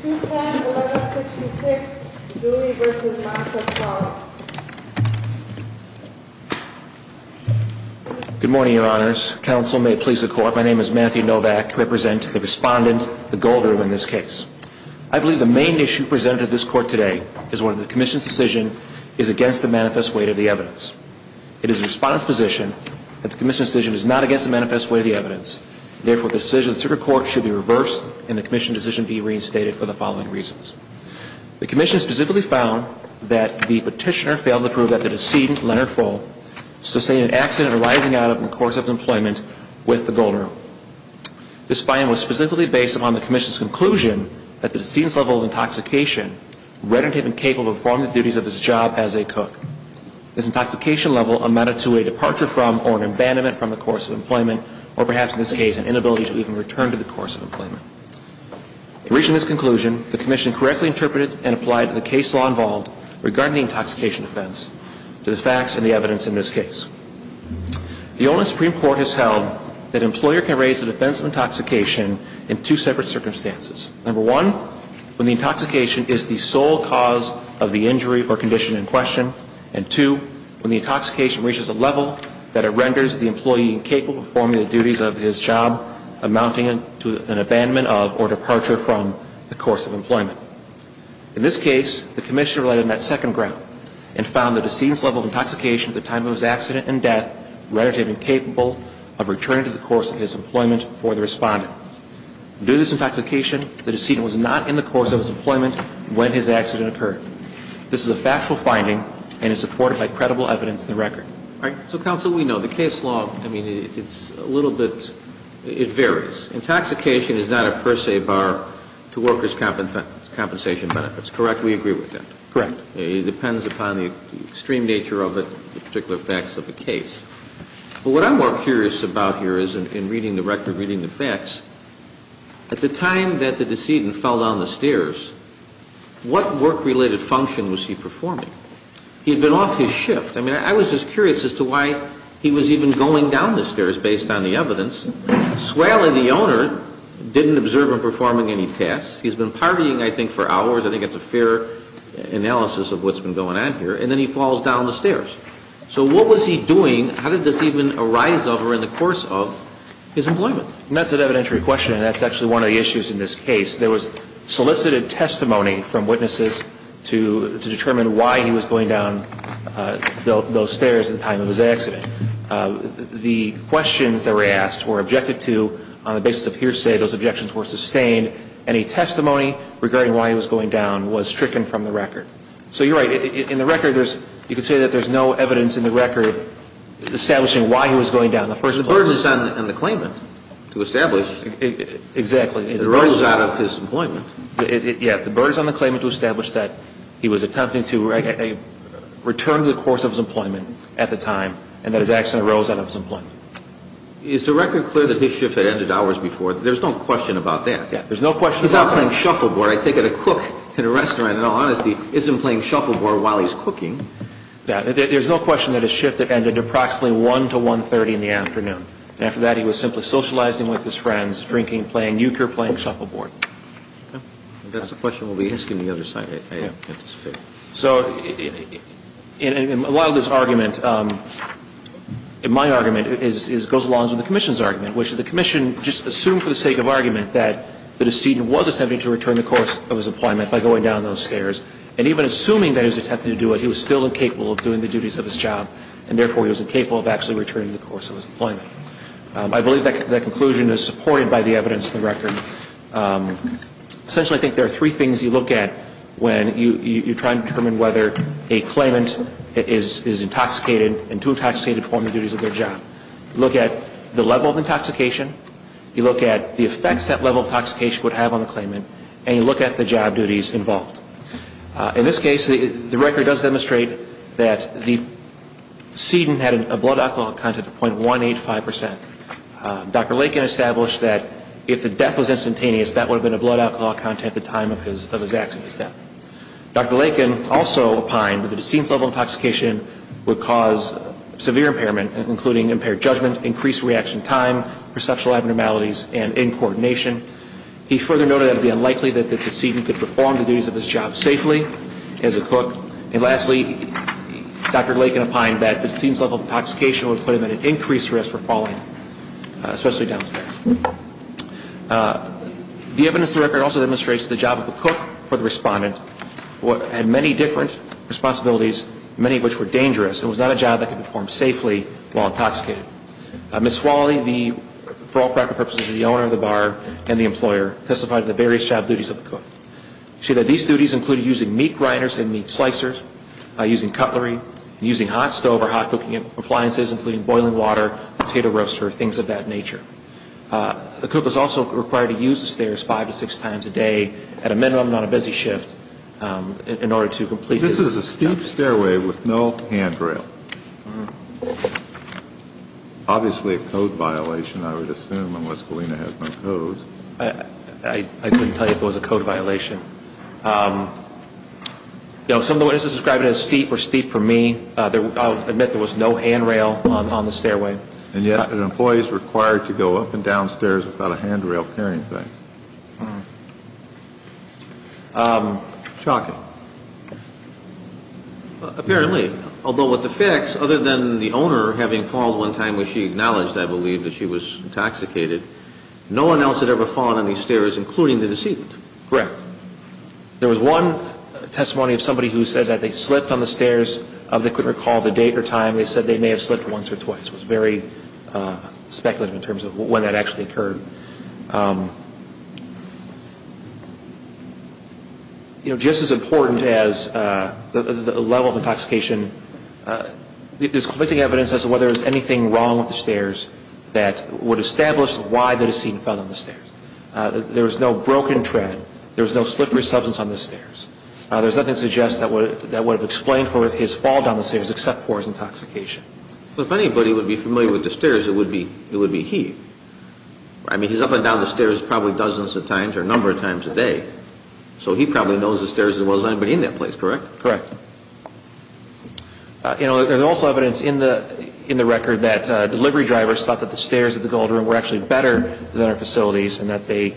210.11.66 Julie v. Montefiore Good morning, Your Honors. Council, may it please the Court, my name is Matthew Novak. I represent the Respondent, the Gold Room, in this case. I believe the main issue presented to this Court today is whether the Commission's decision is against the manifest weight of the evidence. It is the Respondent's position that the Commission's decision is not against the manifest weight of the evidence. Therefore, the decision of the Superior Court should be reversed and the Commission's decision be reinstated for the following reasons. The Commission specifically found that the Petitioner failed to prove that the decedent, Leonard Fohl, sustained an accident arising out of him in the course of his employment with the Gold Room. This finding was specifically based upon the Commission's conclusion that the decedent's level of intoxication rendered him incapable of performing the duties of his job as a cook. This intoxication level amounted to a departure from or an abandonment from the course of employment, or perhaps in this case, an inability to even return to the course of employment. In reaching this conclusion, the Commission correctly interpreted and applied the case law involved regarding the intoxication offense to the facts and the evidence in this case. The Olin Supreme Court has held that an employer can raise the defense of intoxication in two separate circumstances. Number one, when the intoxication is the sole cause of the injury or condition in question. And two, when the intoxication reaches a level that it renders the employee incapable of performing the duties of his job, amounting to an abandonment of or departure from the course of employment. In this case, the Commission relied on that second ground and found that the decedent's level of intoxication at the time of his accident and death rendered him incapable of returning to the course of his employment for the Respondent. Due to this intoxication, the decedent was not in the course of his employment when his accident occurred. This is a factual finding and is supported by credible evidence in the record. All right. So, Counsel, we know the case law, I mean, it's a little bit, it varies. Intoxication is not a per se bar to workers' compensation benefits, correct? We agree with that? Correct. It depends upon the extreme nature of the particular facts of the case. But what I'm more curious about here is, in reading the record, reading the facts, at the time that the decedent fell down the stairs, what work-related function was he performing? He had been off his shift. I mean, I was just curious as to why he was even going down the stairs based on the evidence. Swell and the owner didn't observe him performing any tasks. He's been partying, I think, for hours. I think that's a fair analysis of what's been going on here. And then he falls down the stairs. So what was he doing? How did this even arise over the course of his employment? And that's an evidentiary question, and that's actually one of the issues in this case. There was solicited testimony from witnesses to determine why he was going down those stairs at the time of his accident. The questions that were asked were objected to on the basis of hearsay. Those objections were sustained. Any testimony regarding why he was going down was stricken from the record. So you're right. In the record, you could say that there's no evidence in the record establishing why he was going down in the first place. The burden is on the claimant to establish. Exactly. It arose out of his employment. Yeah. The burden is on the claimant to establish that he was attempting to return to the course of his employment at the time, and that his accident arose out of his employment. Is the record clear that his shift had ended hours before? There's no question about that. Yeah. There's no question about that. If he's playing shuffleboard, I take it a cook in a restaurant, in all honesty, isn't playing shuffleboard while he's cooking. Yeah. There's no question that his shift ended approximately 1 to 1.30 in the afternoon. After that, he was simply socializing with his friends, drinking, playing eucure, playing shuffleboard. If that's the question we'll be asking the other side, I anticipate. So a lot of this argument, my argument, goes along with the Commission's argument, which is the Commission just assumed for the sake of argument that the decedent was attempting to return to the course of his employment by going down those stairs. And even assuming that he was attempting to do it, he was still incapable of doing the duties of his job, and therefore he was incapable of actually returning to the course of his employment. I believe that conclusion is supported by the evidence in the record. Essentially, I think there are three things you look at when you're trying to determine whether a claimant is intoxicated and too intoxicated to perform the duties of their job. You look at the level of intoxication, you look at the effects that level of intoxication would have on the claimant, and you look at the job duties involved. In this case, the record does demonstrate that the decedent had a blood alcohol content of .185%. Dr. Lakin established that if the death was instantaneous, that would have been a blood alcohol content at the time of his accident. Dr. Lakin also opined that the decedent's level of intoxication would cause severe impairment, including impaired judgment, increased reaction time, perceptual abnormalities, and incoordination. He further noted that it would be unlikely that the decedent could perform the duties of his job safely as a cook. And lastly, Dr. Lakin opined that the decedent's level of intoxication would put him at an increased risk for falling, especially down stairs. The evidence in the record also demonstrates that the job of a cook for the respondent had many different responsibilities, many of which were dangerous. It was not a job that could be performed safely while intoxicated. Ms. Fawley, for all practical purposes, the owner of the bar and the employer, testified to the various job duties of the cook. She said these duties included using meat grinders and meat slicers, using cutlery, using hot stove or hot cooking appliances, including boiling water, potato roaster, things of that nature. The cook was also required to use the stairs five to six times a day, at a minimum, on a busy shift, in order to complete his tasks. This is a steep stairway with no handrail. Obviously a code violation, I would assume, unless Galena has no codes. I couldn't tell you if it was a code violation. Some of the witnesses described it as steep or steep for me. I'll admit there was no handrail on the stairway. And yet an employee is required to go up and down stairs without a handrail carrying things. Shocking. Apparently. Although with the facts, other than the owner having fallen one time, which she acknowledged, I believe, that she was intoxicated, no one else had ever fallen on these stairs, including the deceit. Correct. There was one testimony of somebody who said that they slipped on the stairs. They couldn't recall the date or time. They said they may have slipped once or twice. It was very speculative in terms of when that actually occurred. You know, just as important as the level of intoxication, there's conflicting evidence as to whether there was anything wrong with the stairs that would establish why the deceit was found on the stairs. There was no broken tread. There was no slippery substance on the stairs. There's nothing to suggest that would have explained his fall down the stairs except for his intoxication. If anybody would be familiar with the stairs, it would be he. I mean, he's up and down the stairs probably dozens of times or a number of times a day, so he probably knows the stairs as well as anybody in that place, correct? Correct. You know, there's also evidence in the record that delivery drivers thought that the stairs at the Gold Room were actually better than our facilities and that they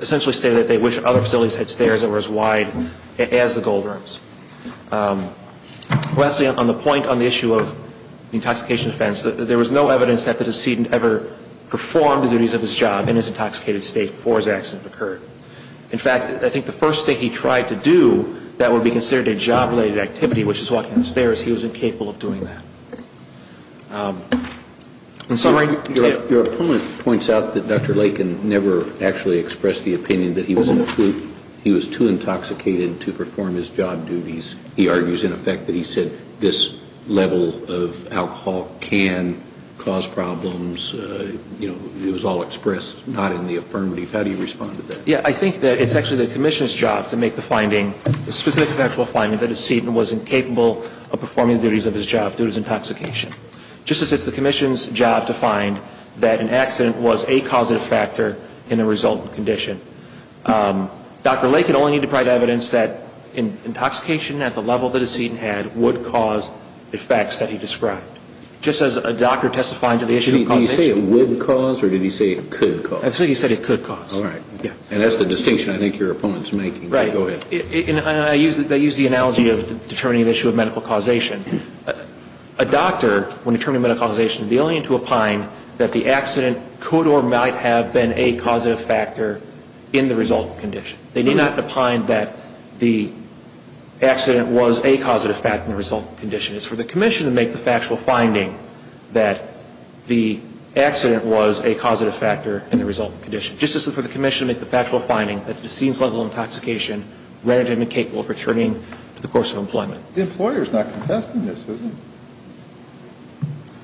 essentially stated that they wished other facilities had stairs that were as wide as the Gold Rooms. Lastly, on the point on the issue of the intoxication offense, there was no evidence that the decedent ever performed the duties of his job in his intoxicated state before his accident occurred. In fact, I think the first thing he tried to do that would be considered a job-related activity, which is walking the stairs, he wasn't capable of doing that. In summary, yes. Your opponent points out that Dr. Lakin never actually expressed the opinion that he was an occlude. He was too intoxicated to perform his job duties. He argues, in effect, that he said this level of alcohol can cause problems. You know, it was all expressed, not in the affirmative. How do you respond to that? Yes. I think that it's actually the Commissioner's job to make the finding, the specific factual finding that a decedent wasn't capable of performing the duties of his job due to his intoxication. Just as it's the Commissioner's job to find that an accident was a causative factor in the resultant condition. Dr. Lakin only needed to provide evidence that intoxication at the level the decedent had would cause effects that he described. Just as a doctor testifying to the issue of causation. Did he say it would cause or did he say it could cause? I think he said it could cause. All right. And that's the distinction I think your opponent's making. Right. Go ahead. I use the analogy of determining the issue of medical causation. A doctor, when determining medical causation, is only to opine that the accident could or might have been a causative factor in the resultant condition. They need not opine that the accident was a causative factor in the resultant condition. It's for the Commissioner to make the factual finding that the accident was a causative factor in the resultant condition. Just as it's for the Commissioner to make the factual finding that the decedent's level of intoxication rendered him incapable of returning to the course of employment. The employer's not contesting this, is he?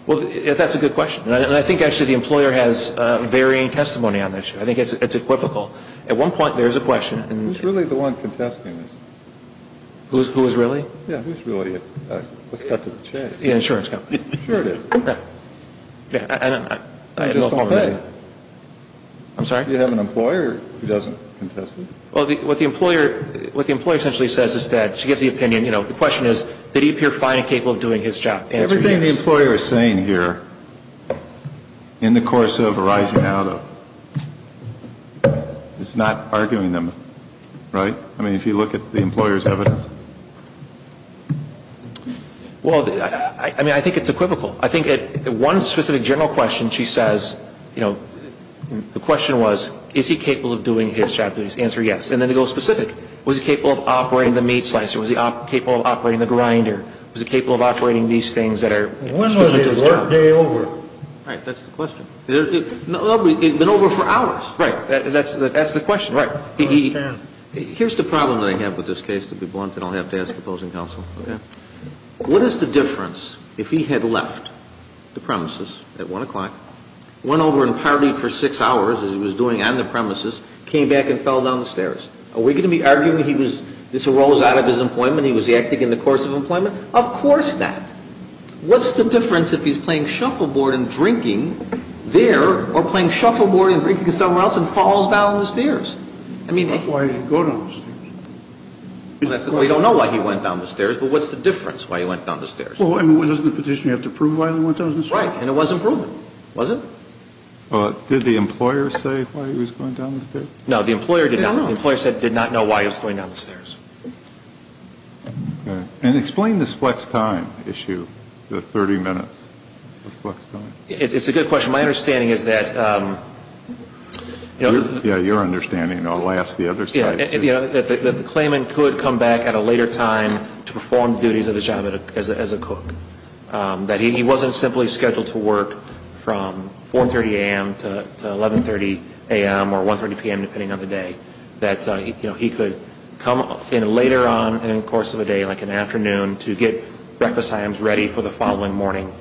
Well, that's a good question. And I think, actually, the employer has varying testimony on this. I think it's equivocal. At one point, there is a question. Who's really the one contesting this? Who is really? Yeah, who's really? Let's cut to the chase. The insurance company. Sure it is. I just don't pay. I'm sorry? Do you have an employer who doesn't contest it? Well, what the employer essentially says is that, she gives the opinion, you know, the question is, did he appear fine and capable of doing his job? Everything the employer is saying here, in the course of arising out of, is not arguing them, right? I mean, if you look at the employer's evidence. Well, I mean, I think it's equivocal. I think at one specific general question, she says, you know, the question was, is he capable of doing his job? The answer is yes. And then it goes specific. Was he capable of operating the meat slicer? Was he capable of operating the grinder? Was he capable of operating these things that are specific to his job? When was his work day over? Right. That's the question. It had been over for hours. Right. That's the question. Right. Here's the problem that I have with this case, to be blunt, and I'll have to ask opposing counsel. Okay. What is the difference if he had left the premises at 1 o'clock, went over and partied for 6 hours, as he was doing on the premises, came back and fell down the stairs? Are we going to be arguing this arose out of his employment? He was acting in the course of employment? Of course not. What's the difference if he's playing shuffleboard and drinking there, or playing shuffleboard and drinking somewhere else and falls down the stairs? That's why he didn't go down the stairs. We don't know why he went down the stairs, but what's the difference why he went down the stairs? Well, I mean, doesn't the petition have to prove why he went down the stairs? Right. And it wasn't proven, was it? Did the employer say why he was going down the stairs? No. The employer did not. The employer said he did not know why he was going down the stairs. Okay. And explain this flex time issue, the 30 minutes of flex time. It's a good question. My understanding is that the other... Yeah. Your understanding. Alas, the other side... That the claimant could come back at a later time to perform duties of his job as a cook. That he wasn't simply scheduled to work from 4.30 a.m. to 11.30 a.m. or 1.30 p.m. depending on the day. That he could come in later on in the course of a day, like an afternoon, to get breakfast items ready for the following morning.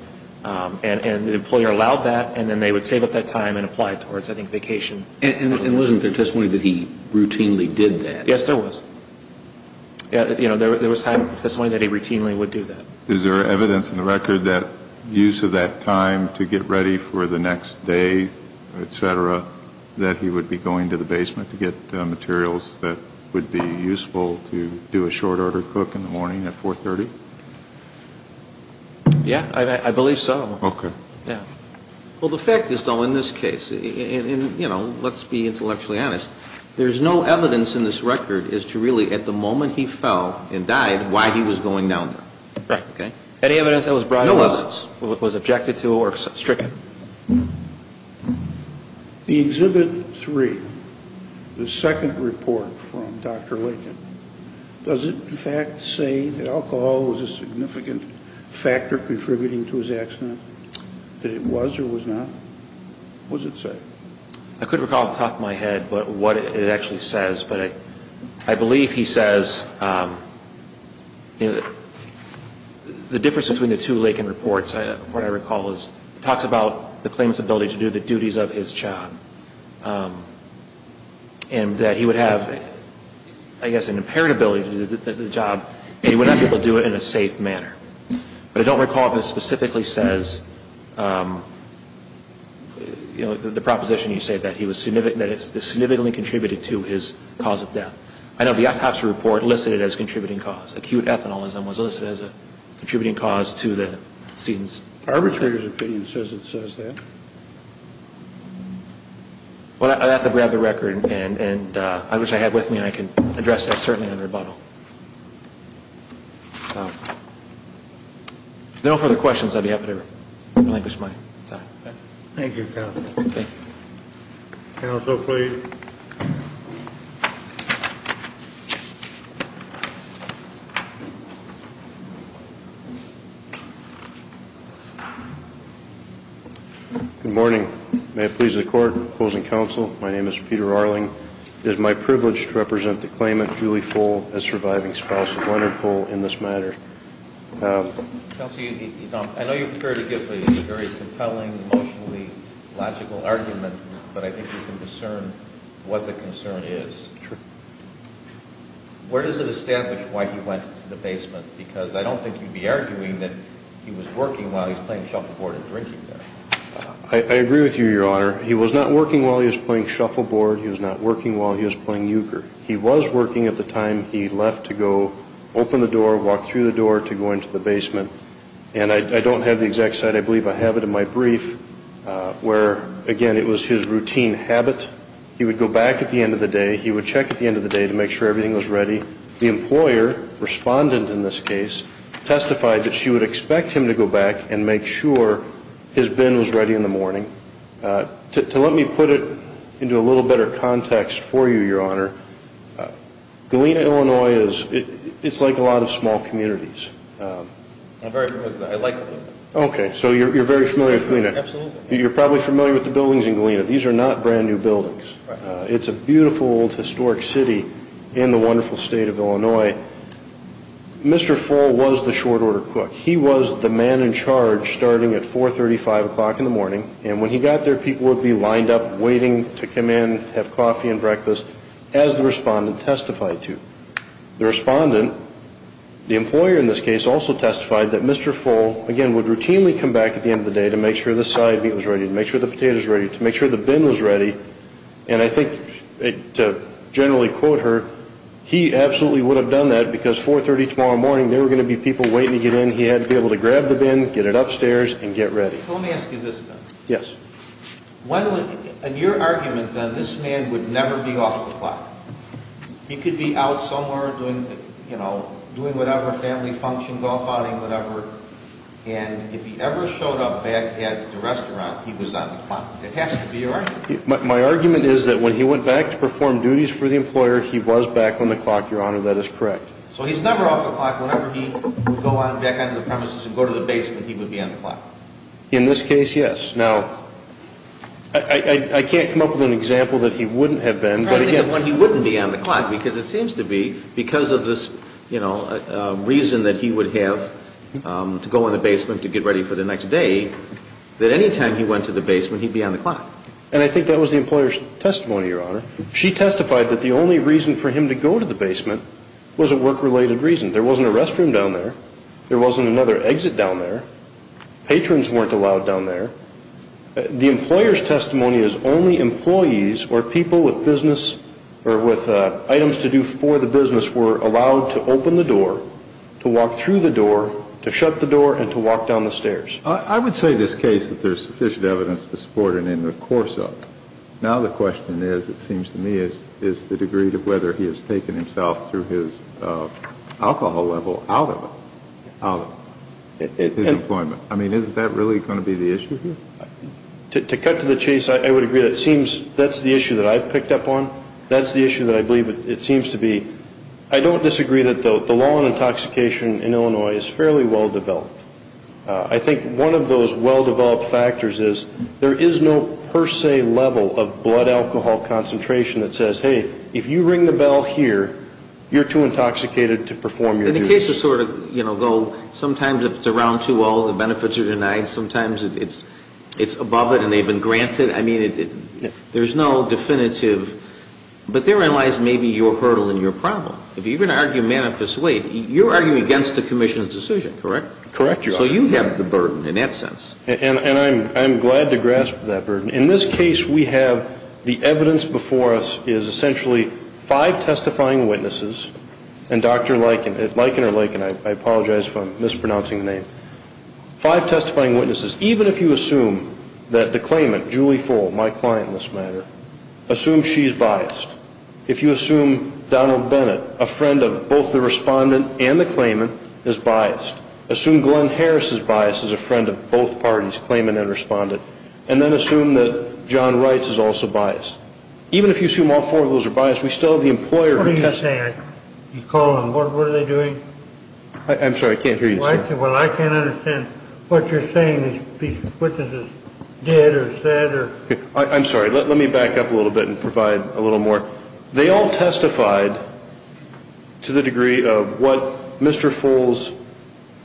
And the employer allowed that, and then they would save up that time and apply it towards, I think, vacation. And wasn't there testimony that he routinely did that? Yes, there was. You know, there was testimony that he routinely would do that. Is there evidence in the record that use of that time to get ready for the next day, et cetera, that he would be going to the basement to get materials that would be useful to do a short-order cook in the morning at 4.30? Yeah, I believe so. Okay. Yeah. Well, the fact is, though, in this case, and, you know, let's be intellectually honest, there's no evidence in this record as to really, at the moment he fell and died, why he was going down there. Right. Okay? Any evidence that was brought up? No evidence was objected to or stricken. The Exhibit 3, the second report from Dr. Lincoln, does it, in fact, say that alcohol was a significant factor contributing to his accident, that it was or was not? What does it say? I couldn't recall off the top of my head what it actually says, but I believe he says, you know, the difference between the two Lincoln reports, what I recall, is it talks about the claimant's ability to do the duties of his job and that he would have, I guess, an impaired ability to do the job and he would not be able to do it in a safe manner. But I don't recall if it specifically says, you know, the proposition you say that he was significant, that it significantly contributed to his cause of death. I know the autopsy report listed it as a contributing cause. Acute ethanolism was listed as a contributing cause to the scenes. Arbitrators opinion says it says that. Well, I'd have to grab the record and I wish I had with me and I can address that certainly in rebuttal. So, if there are no further questions, I'd be happy to relinquish my time. Thank you, counsel. Thank you. Counsel, please. Good morning. May it please the Court. Opposing counsel. My name is Peter Arling. It is my privilege to represent the claimant, Julie Fole, as surviving spouse of Leonard Fole in this matter. Counsel, I know you're prepared to give a very compelling, emotionally logical argument, but I think you can discern what the concern is. Sure. Where does it establish why he went to the basement? Because I don't think you'd be arguing that he was working while he was playing shuffleboard and drinking there. I agree with you, Your Honor. He was not working while he was playing shuffleboard. He was not working while he was playing euchre. He was working at the time he left to go open the door, walk through the door to go into the basement. And I don't have the exact site. I believe I have it in my brief where, again, it was his routine habit. He would go back at the end of the day. He would check at the end of the day to make sure everything was ready. The employer, respondent in this case, testified that she would expect him to go back and make sure his bin was ready in the morning. To let me put it into a little better context for you, Your Honor, Galena, Illinois, it's like a lot of small communities. I'm very familiar with that. I like it. Okay. So you're very familiar with Galena. Absolutely. You're probably familiar with the buildings in Galena. These are not brand-new buildings. It's a beautiful, historic city in the wonderful state of Illinois. Mr. Full was the short order cook. He was the man in charge starting at 435 o'clock in the morning. And when he got there, people would be lined up waiting to come in, have coffee and breakfast, as the respondent testified to. The respondent, the employer in this case, also testified that Mr. Full, again, would routinely come back at the end of the day to make sure the side meat was ready, to make sure the potatoes were ready, to make sure the bin was ready. And I think to generally quote her, he absolutely would have done that because 430 tomorrow morning there were going to be people waiting to get in. He had to be able to grab the bin, get it upstairs and get ready. Let me ask you this, then. Yes. In your argument, then, this man would never be off the clock. He could be out somewhere doing whatever family function, golf outing, whatever, and if he ever showed up back at the restaurant, he was on the clock. It has to be your argument. My argument is that when he went back to perform duties for the employer, he was back on the clock, Your Honor. That is correct. So he's never off the clock. Whenever he would go back onto the premises and go to the basement, he would be on the clock. In this case, yes. Now, I can't come up with an example that he wouldn't have been. I think the one he wouldn't be on the clock because it seems to be because of this, you know, reason that he would have to go in the basement to get ready for the next day, that any time he went to the basement, he'd be on the clock. And I think that was the employer's testimony, Your Honor. She testified that the only reason for him to go to the basement was a work-related reason. There wasn't a restroom down there. There wasn't another exit down there. Patrons weren't allowed down there. The employer's testimony is only employees or people with business or with items to do for the business were allowed to open the door, to walk through the door, to shut the door, and to walk down the stairs. I would say in this case that there's sufficient evidence to support it in the course of it. Now the question is, it seems to me, is the degree to whether he has taken himself through his alcohol level out of it, out of his employment. I mean, is that really going to be the issue here? To cut to the chase, I would agree that seems that's the issue that I've picked up on. That's the issue that I believe it seems to be. I don't disagree that the law on intoxication in Illinois is fairly well-developed. I think one of those well-developed factors is there is no per se level of blood alcohol concentration that says, hey, if you ring the bell here, you're too intoxicated to perform your duty. And the cases sort of go, sometimes if it's around 2-0, the benefits are denied. Sometimes it's above it and they've been granted. I mean, there's no definitive. But therein lies maybe your hurdle and your problem. If you're going to argue manifestly, you're arguing against the commission's decision, correct? Correct, Your Honor. So you have the burden in that sense. And I'm glad to grasp that burden. In this case, we have the evidence before us is essentially five testifying witnesses and Dr. Lykin, Lykin or Lykin, I apologize if I'm mispronouncing the name, five testifying witnesses. Even if you assume that the claimant, Julie Full, my client in this matter, assume she's biased. If you assume Donald Bennett, a friend of both the respondent and the claimant, is biased. Assume Glenn Harris' bias is a friend of both parties, claimant and respondent. And then assume that John Wright's is also biased. Even if you assume all four of those are biased, we still have the employer who testifies. What are you saying? You call them. What are they doing? I'm sorry, I can't hear you, sir. Well, I can't understand what you're saying these witnesses did or said. I'm sorry. Let me back up a little bit and provide a little more. They all testified to the degree of what Mr. Full's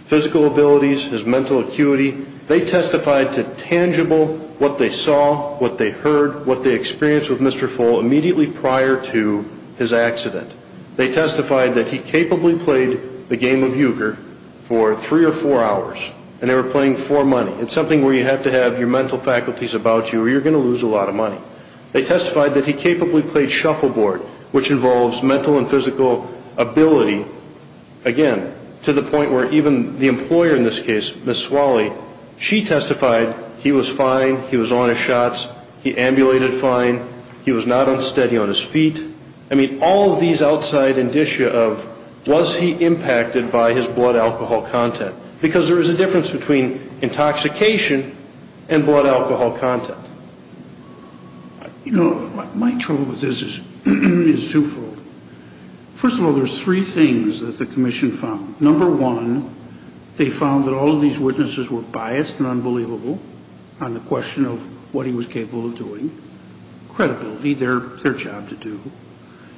physical abilities, his mental acuity, they testified to tangible what they saw, what they heard, what they experienced with Mr. Full immediately prior to his accident. They testified that he capably played the game of Uyghur for three or four hours, and they were playing for money. It's something where you have to have your mental faculties about you or you're going to lose a lot of money. They testified that he capably played shuffleboard, which involves mental and physical ability, again, to the point where even the employer in this case, Ms. Swally, she testified he was fine, he was on his shots, he ambulated fine, he was not unsteady on his feet. I mean, all of these outside indicia of was he impacted by his blood alcohol content, because there is a difference between intoxication and blood alcohol content. You know, my trouble with this is twofold. First of all, there's three things that the commission found. Number one, they found that all of these witnesses were biased and unbelievable on the question of what he was capable of doing, credibility, their job to do.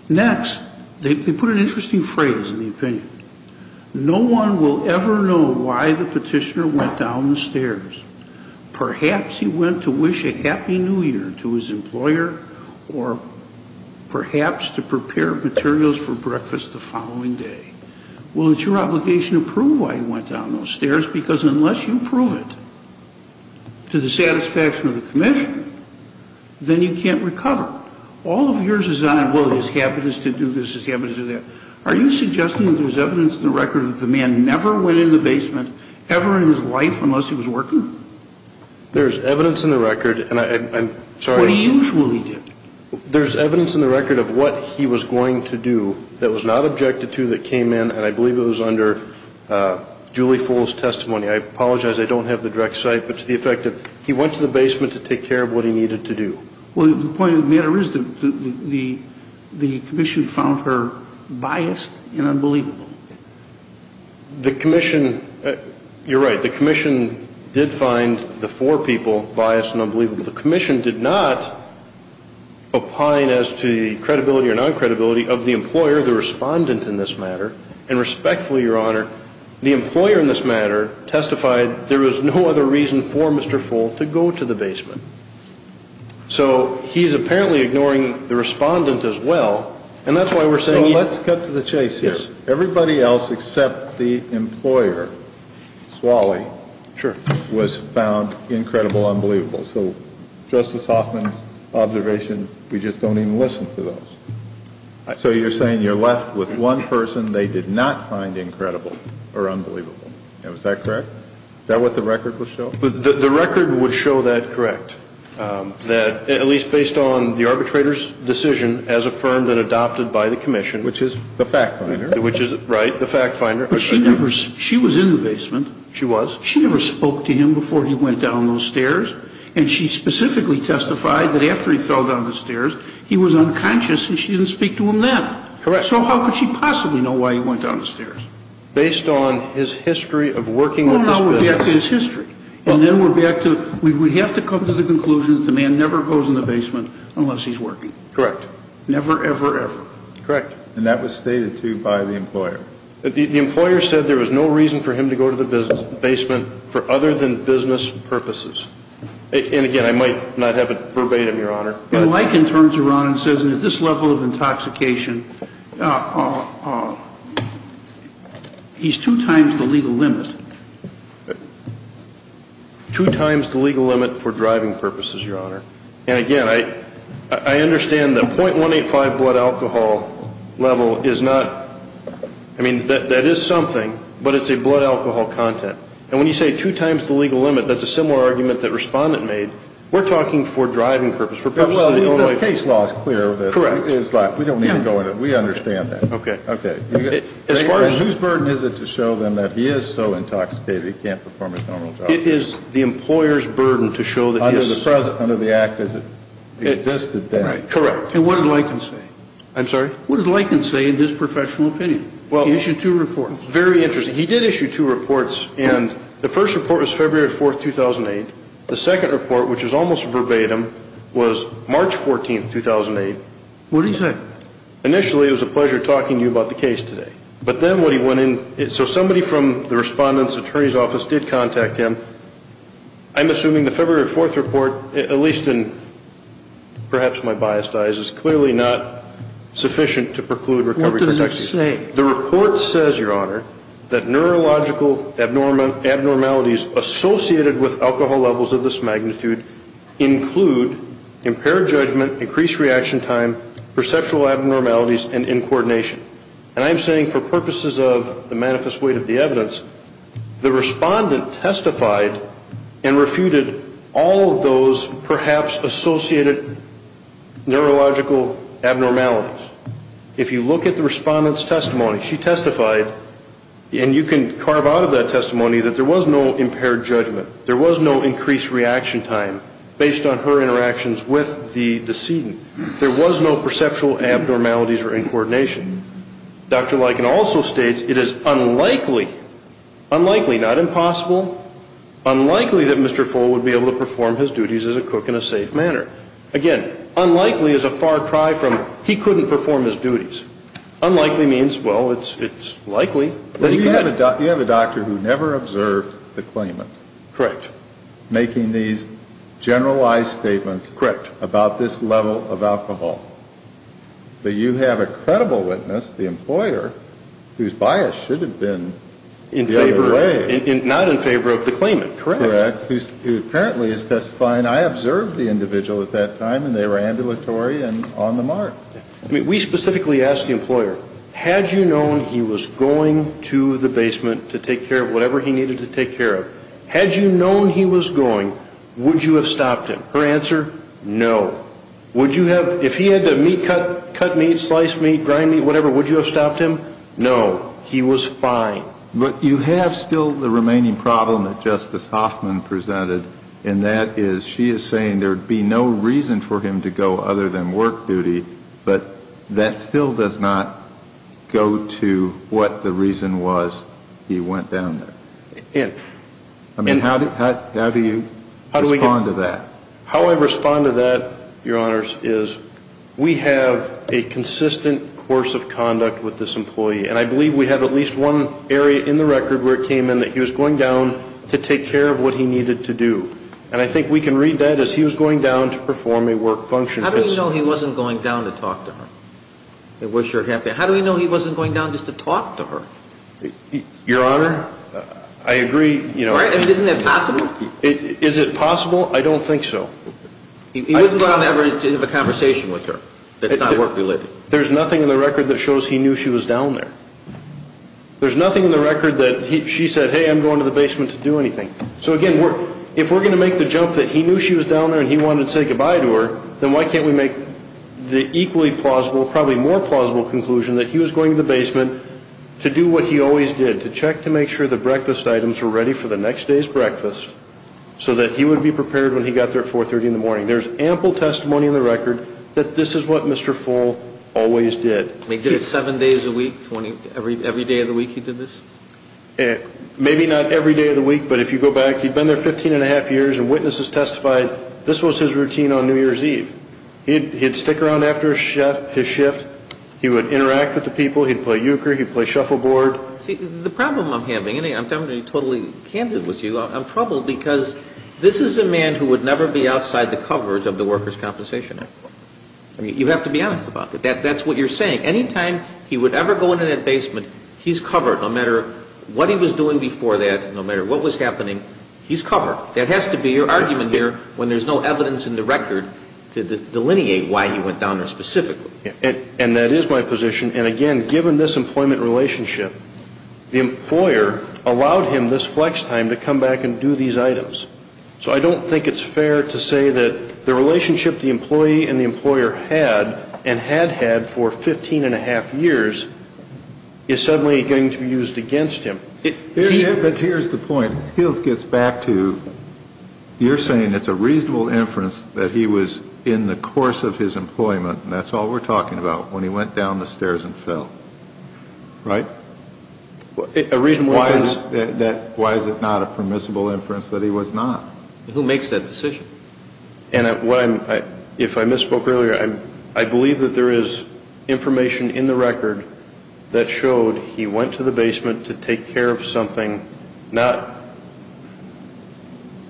Next, they put an interesting phrase in the opinion. No one will ever know why the petitioner went down the stairs. Perhaps he went to wish a happy new year to his employer or perhaps to prepare materials for breakfast the following day. Well, it's your obligation to prove why he went down those stairs, because unless you prove it to the satisfaction of the commission, then you can't recover. All of yours is on whether his habit is to do this, his habit is to do that. Next, they put an interesting phrase in the opinion. then you can't recover. Next, they put an interesting phrase in the opinion. Are you suggesting that there's evidence in the record that the man never went in the basement ever in his life unless he was working? There's evidence in the record, and I'm sorry. What he usually did. There's evidence in the record of what he was going to do that was not objected to that came in, and I believe it was under Julie Full's testimony. I apologize. I don't have the direct site, but to the effect that he went to the basement to take care of what he needed to do. Well, the point of the matter is that the commission found her biased and unbelievable. The commission, you're right, the commission did find the four people biased and unbelievable. The commission did not opine as to the credibility or non-credibility of the employer, the respondent in this matter, and respectfully, Your Honor, the employer in this matter testified there was no other reason for Mr. Full to go to the basement. So he's apparently ignoring the respondent as well, and that's why we're saying he. So let's cut to the chase here. Yes. Everybody else except the employer, Swally. Sure. The fact finder was found incredible, unbelievable. So Justice Hoffman's observation, we just don't even listen to those. So you're saying you're left with one person they did not find incredible or unbelievable. Is that correct? Is that what the record would show? The record would show that correct, that at least based on the arbitrator's decision as affirmed and adopted by the commission. Which is the fact finder. Which is, right, the fact finder. But she never, she was in the basement. She was. She never spoke to him before he went down those stairs, and she specifically testified that after he fell down the stairs, he was unconscious and she didn't speak to him then. Correct. So how could she possibly know why he went down the stairs? Based on his history of working with this business. No, no, we're back to his history. And then we're back to, we have to come to the conclusion that the man never goes in the basement unless he's working. Correct. Never, ever, ever. Correct. And that was stated, too, by the employer. The employer said there was no reason for him to go to the basement for other than business purposes. And, again, I might not have it verbatim, Your Honor. When Lichen turns around and says at this level of intoxication, he's two times the legal limit. Two times the legal limit for driving purposes, Your Honor. And, again, I understand the .185 blood alcohol level is not, I mean, that is something, but it's a blood alcohol content. And when you say two times the legal limit, that's a similar argument that Respondent made. We're talking for driving purposes. Well, the case law is clear. Correct. We don't need to go into it. We understand that. Okay. Okay. Whose burden is it to show them that he is so intoxicated he can't perform his normal job? It is the employer's burden to show that he is. Under the act as it existed then. Correct. And what did Lichen say? I'm sorry? What did Lichen say in his professional opinion? He issued two reports. Very interesting. He did issue two reports. And the first report was February 4, 2008. The second report, which is almost verbatim, was March 14, 2008. What did he say? Initially, it was a pleasure talking to you about the case today. But then what he went in, so somebody from the Respondent's attorney's office did contact him. I'm assuming the February 4 report, at least in perhaps my biased eyes, is clearly not sufficient to preclude recovery protection. What does it say? The report says, Your Honor, that neurological abnormalities associated with alcohol levels of this magnitude include impaired judgment, increased reaction time, perceptual abnormalities, and incoordination. And I'm saying for purposes of the manifest weight of the evidence, the Respondent testified and refuted all of those perhaps associated neurological abnormalities. If you look at the Respondent's testimony, she testified, and you can carve out of that testimony, that there was no impaired judgment. There was no increased reaction time based on her interactions with the decedent. There was no perceptual abnormalities or incoordination. Dr. Lykin also states it is unlikely, unlikely, not impossible, unlikely that Mr. Fole would be able to perform his duties as a cook in a safe manner. Again, unlikely is a far cry from he couldn't perform his duties. Unlikely means, well, it's likely that he could. You have a doctor who never observed the claimant. Correct. Making these generalized statements. Correct. About this level of alcohol. But you have a credible witness, the employer, whose bias should have been the other way. Not in favor of the claimant, correct. Correct, who apparently is testifying. I observed the individual at that time, and they were ambulatory and on the mark. I mean, we specifically asked the employer, had you known he was going to the basement to take care of whatever he needed to take care of, had you known he was going, would you have stopped him? Her answer, no. Would you have, if he had to cut meat, slice meat, grind meat, whatever, would you have stopped him? No. He was fine. But you have still the remaining problem that Justice Hoffman presented, and that is she is saying there would be no reason for him to go other than work duty, but that still does not go to what the reason was he went down there. I mean, how do you respond to that? How I respond to that, Your Honors, is we have a consistent course of conduct with this employee, and I believe we have at least one area in the record where it came in that he was going down to take care of what he needed to do. And I think we can read that as he was going down to perform a work function. How do we know he wasn't going down to talk to her? How do we know he wasn't going down just to talk to her? Your Honor, I agree. Isn't that possible? Is it possible? I don't think so. I wouldn't go down there to have a conversation with her. That's not work-related. There's nothing in the record that shows he knew she was down there. There's nothing in the record that she said, hey, I'm going to the basement to do anything. So, again, if we're going to make the jump that he knew she was down there and he wanted to say goodbye to her, then why can't we make the equally plausible, probably more plausible conclusion that he was going to the basement to do what he always did, to check to make sure the breakfast items were ready for the next day's breakfast, so that he would be prepared when he got there at 430 in the morning. There's ample testimony in the record that this is what Mr. Full always did. He did it seven days a week? Every day of the week he did this? Maybe not every day of the week, but if you go back, he'd been there 15 1⁄2 years, and witnesses testified this was his routine on New Year's Eve. He'd stick around after his shift. He would interact with the people. He'd play euchre. He'd play shuffleboard. See, the problem I'm having, and I'm telling you totally candid with you, I'm troubled because this is a man who would never be outside the covers of the Workers' Compensation Act. I mean, you have to be honest about that. That's what you're saying. Anytime he would ever go into that basement, he's covered. No matter what he was doing before that, no matter what was happening, he's covered. That has to be your argument here when there's no evidence in the record to delineate why he went down there specifically. And that is my position. And, again, given this employment relationship, the employer allowed him this flex time to come back and do these items. So I don't think it's fair to say that the relationship the employee and the employer had, and had had for 15 1⁄2 years, is suddenly going to be used against him. Here's the point. Skills gets back to, you're saying it's a reasonable inference that he was in the course of his employment, and that's all we're talking about, when he went down the stairs and fell. Right? Why is it not a permissible inference that he was not? Who makes that decision? And if I misspoke earlier, I believe that there is information in the record that showed he went to the basement to take care of something not.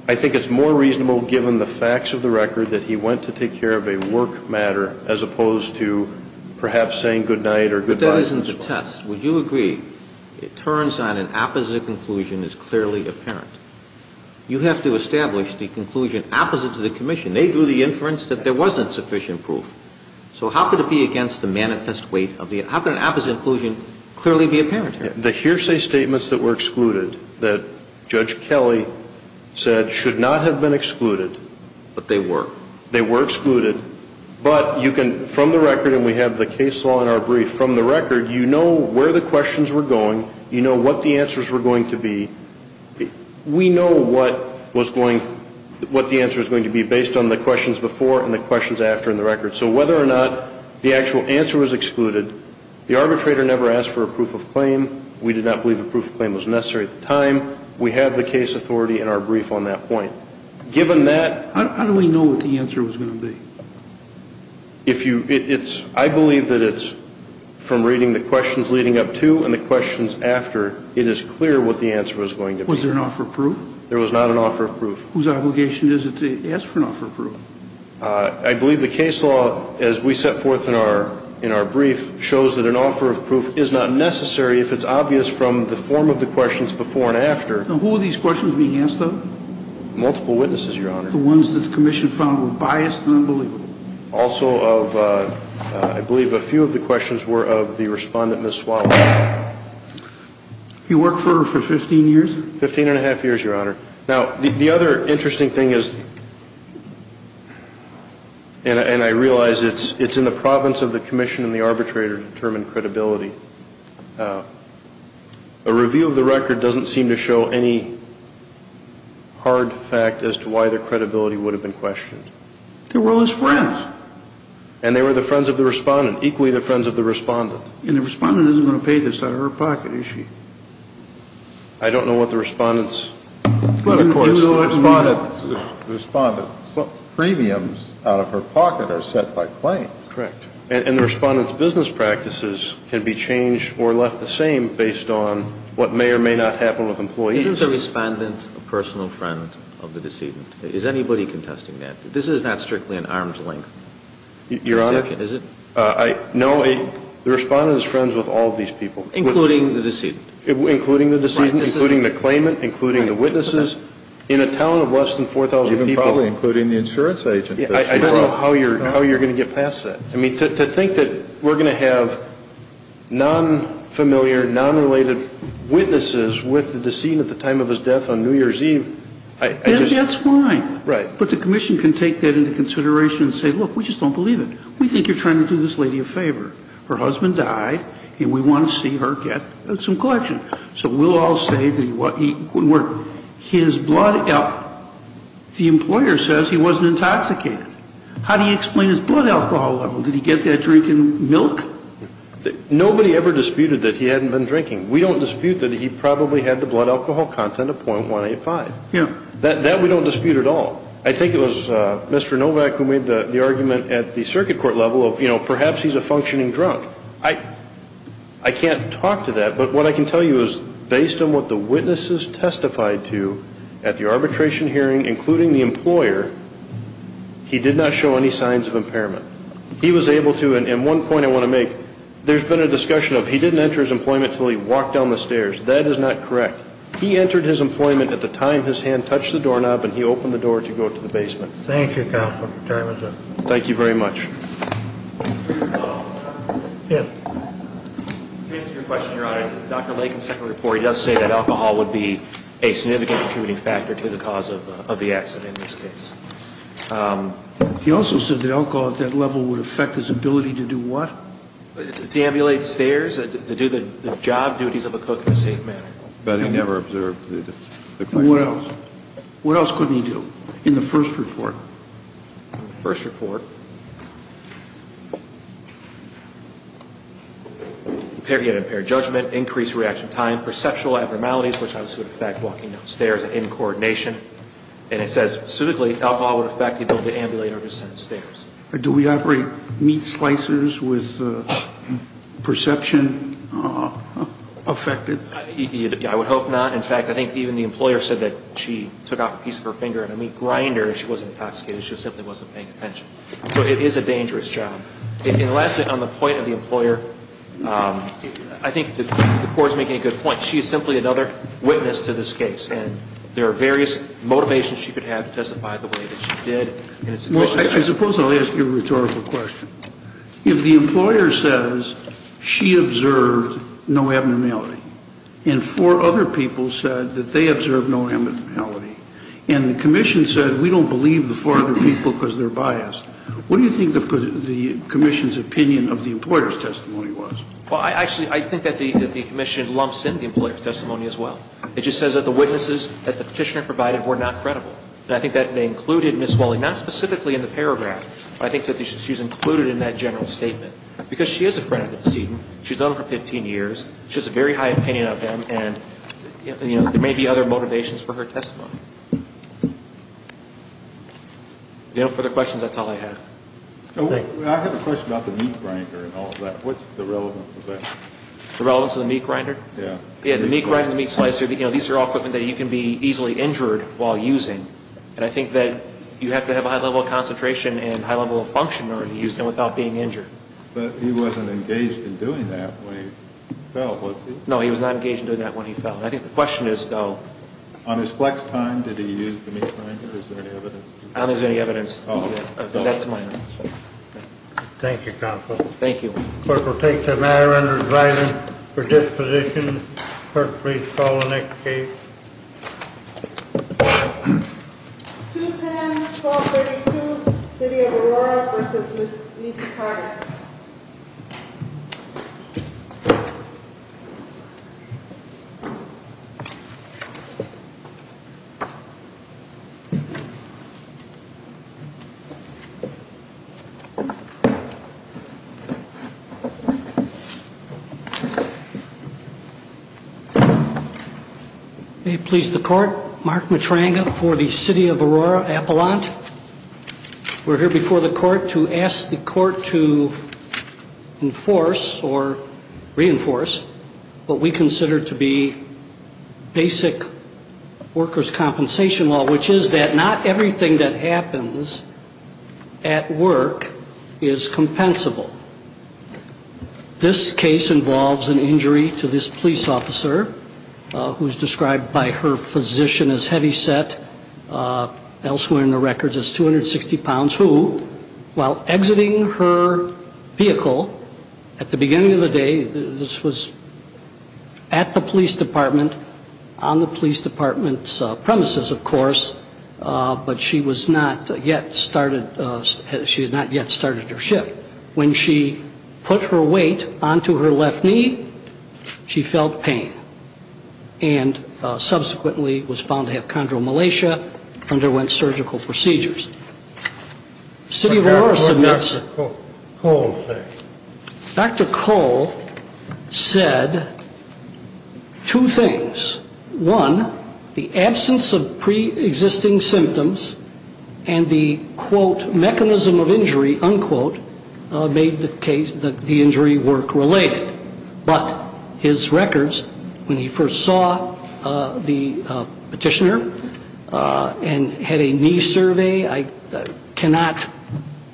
I think it's more reasonable, given the facts of the record, that he went to take care of a work matter as opposed to perhaps saying goodnight or goodbye. But that isn't the test. Would you agree it turns on an opposite conclusion as clearly apparent? You have to establish the conclusion opposite to the commission. They drew the inference that there wasn't sufficient proof. So how could it be against the manifest weight of the, how could an opposite conclusion clearly be apparent here? The hearsay statements that were excluded, that Judge Kelly said should not have been excluded. But they were. They were excluded. But you can, from the record, and we have the case law in our brief, from the record, you know where the questions were going, you know what the answers were going to be. We know what was going, what the answer is going to be based on the questions before and the questions after in the record. So whether or not the actual answer was excluded, the arbitrator never asked for a proof of claim. We did not believe a proof of claim was necessary at the time. We have the case authority in our brief on that point. Given that. How do we know what the answer was going to be? If you, it's, I believe that it's from reading the questions leading up to and the questions after, it is clear what the answer was going to be. Was there an offer of proof? Whose obligation is it to ask for an offer of proof? I believe the case law, as we set forth in our brief, shows that an offer of proof is not necessary if it's obvious from the form of the questions before and after. And who were these questions being asked of? Multiple witnesses, Your Honor. The ones that the commission found were biased and unbelievable. Also of, I believe a few of the questions were of the respondent, Ms. Swallow. He worked for her for 15 years? 15 and a half years, Your Honor. Now, the other interesting thing is, and I realize it's in the province of the commission and the arbitrator to determine credibility. A review of the record doesn't seem to show any hard fact as to why the credibility would have been questioned. They were all his friends. And they were the friends of the respondent, equally the friends of the respondent. And the respondent isn't going to pay this out of her pocket, is she? I don't know what the respondent's. You know the respondent's. The respondent's. But premiums out of her pocket are set by claim. Correct. And the respondent's business practices can be changed or left the same based on what may or may not happen with employees. Isn't the respondent a personal friend of the decedent? Is anybody contesting that? This is not strictly an arm's length. Is it? No. The respondent is friends with all these people. Including the decedent. Including the claimant. Including the witnesses. In a town of less than 4,000 people. Probably including the insurance agent. I don't know how you're going to get past that. I mean, to think that we're going to have non-familiar, non-related witnesses with the decedent at the time of his death on New Year's Eve, I just. That's fine. Right. But the commission can take that into consideration and say, look, we just don't believe it. We think you're trying to do this lady a favor. We want to see her get some collection. So we'll all say that he was. The employer says he wasn't intoxicated. How do you explain his blood alcohol level? Did he get that drink in milk? Nobody ever disputed that he hadn't been drinking. We don't dispute that he probably had the blood alcohol content of .185. That we don't dispute at all. I think it was Mr. Novak who made the argument at the circuit court level of, you know, he's a functioning drunk. I can't talk to that. But what I can tell you is, based on what the witnesses testified to at the arbitration hearing, including the employer, he did not show any signs of impairment. He was able to, and one point I want to make, there's been a discussion of he didn't enter his employment until he walked down the stairs. That is not correct. He entered his employment at the time his hand touched the doorknob and he opened the door to go to the basement. Thank you, Counsel. Your time is up. Thank you very much. Yeah. To answer your question, Your Honor, Dr. Lakin's second report, he does say that alcohol would be a significant attributing factor to the cause of the accident in this case. He also said that alcohol at that level would affect his ability to do what? To ambulate stairs, to do the job duties of a cook in a safe manner. But he never observed that. What else? What else couldn't he do in the first report? In the first report, he had impaired judgment, increased reaction time, perceptual abnormalities, which obviously would affect walking down stairs and in coordination. And it says specifically alcohol would affect the ability to ambulate or descend stairs. Do we operate meat slicers with perception affected? I would hope not. In fact, I think even the employer said that she took off a piece of her finger and a meat grinder and she wasn't intoxicated. She simply wasn't paying attention. So it is a dangerous job. And lastly, on the point of the employer, I think the court is making a good point. She is simply another witness to this case. And there are various motivations she could have to testify the way that she did. Well, I suppose I'll ask you a rhetorical question. If the employer says she observed no abnormality and four other people said that they observed no abnormality, and the commission said we don't believe the four other people because they're biased, what do you think the commission's opinion of the employer's testimony was? Well, actually, I think that the commission lumps in the employer's testimony as well. It just says that the witnesses that the Petitioner provided were not credible. And I think that they included Ms. Welling, not specifically in the paragraph, but I think that she's included in that general statement. Because she is a friend of the decedent. She's known him for 15 years. She has a very high opinion of him. And there may be other motivations for her testimony. Do you have any further questions? That's all I have. I have a question about the meat grinder and all of that. What's the relevance of that? The relevance of the meat grinder? Yeah. Yeah, the meat grinder, the meat slicer, these are all equipment that you can be easily injured while using. And I think that you have to have a high level of concentration and high level of function in order to use them without being injured. But he wasn't engaged in doing that when he fell, was he? No, he was not engaged in doing that when he fell. And I think the question is, though. On his flex time, did he use the meat grinder? Is there any evidence? I don't think there's any evidence. Thank you, Counselor. Thank you. Clerk will take the matter under his writing for disposition. Clerk, please call the next case. 210-1232, City of Aurora v. Lisa Carter. Please be seated. May it please the Court, Mark Matranga for the City of Aurora Appellant. We're here before the Court to ask the Court to enforce or reinforce what we consider to be basic workers' compensation law, which is that not everything that happens at work is compensable. This case involves an injury to this police officer who is described by her position as heavyset, elsewhere in the records as 260 pounds, who, while exiting her vehicle at the beginning of the day, this was at the police department, on the police department's premises, of course, but she had not yet started her shift. When she put her weight onto her left knee, she felt pain. And subsequently was found to have chondromalacia, underwent surgical procedures. City of Aurora submits. Dr. Cole said two things. One, the absence of pre-existing symptoms and the, quote, mechanism of injury, unquote, made the injury work related. But his records, when he first saw the petitioner and had a knee survey, I cannot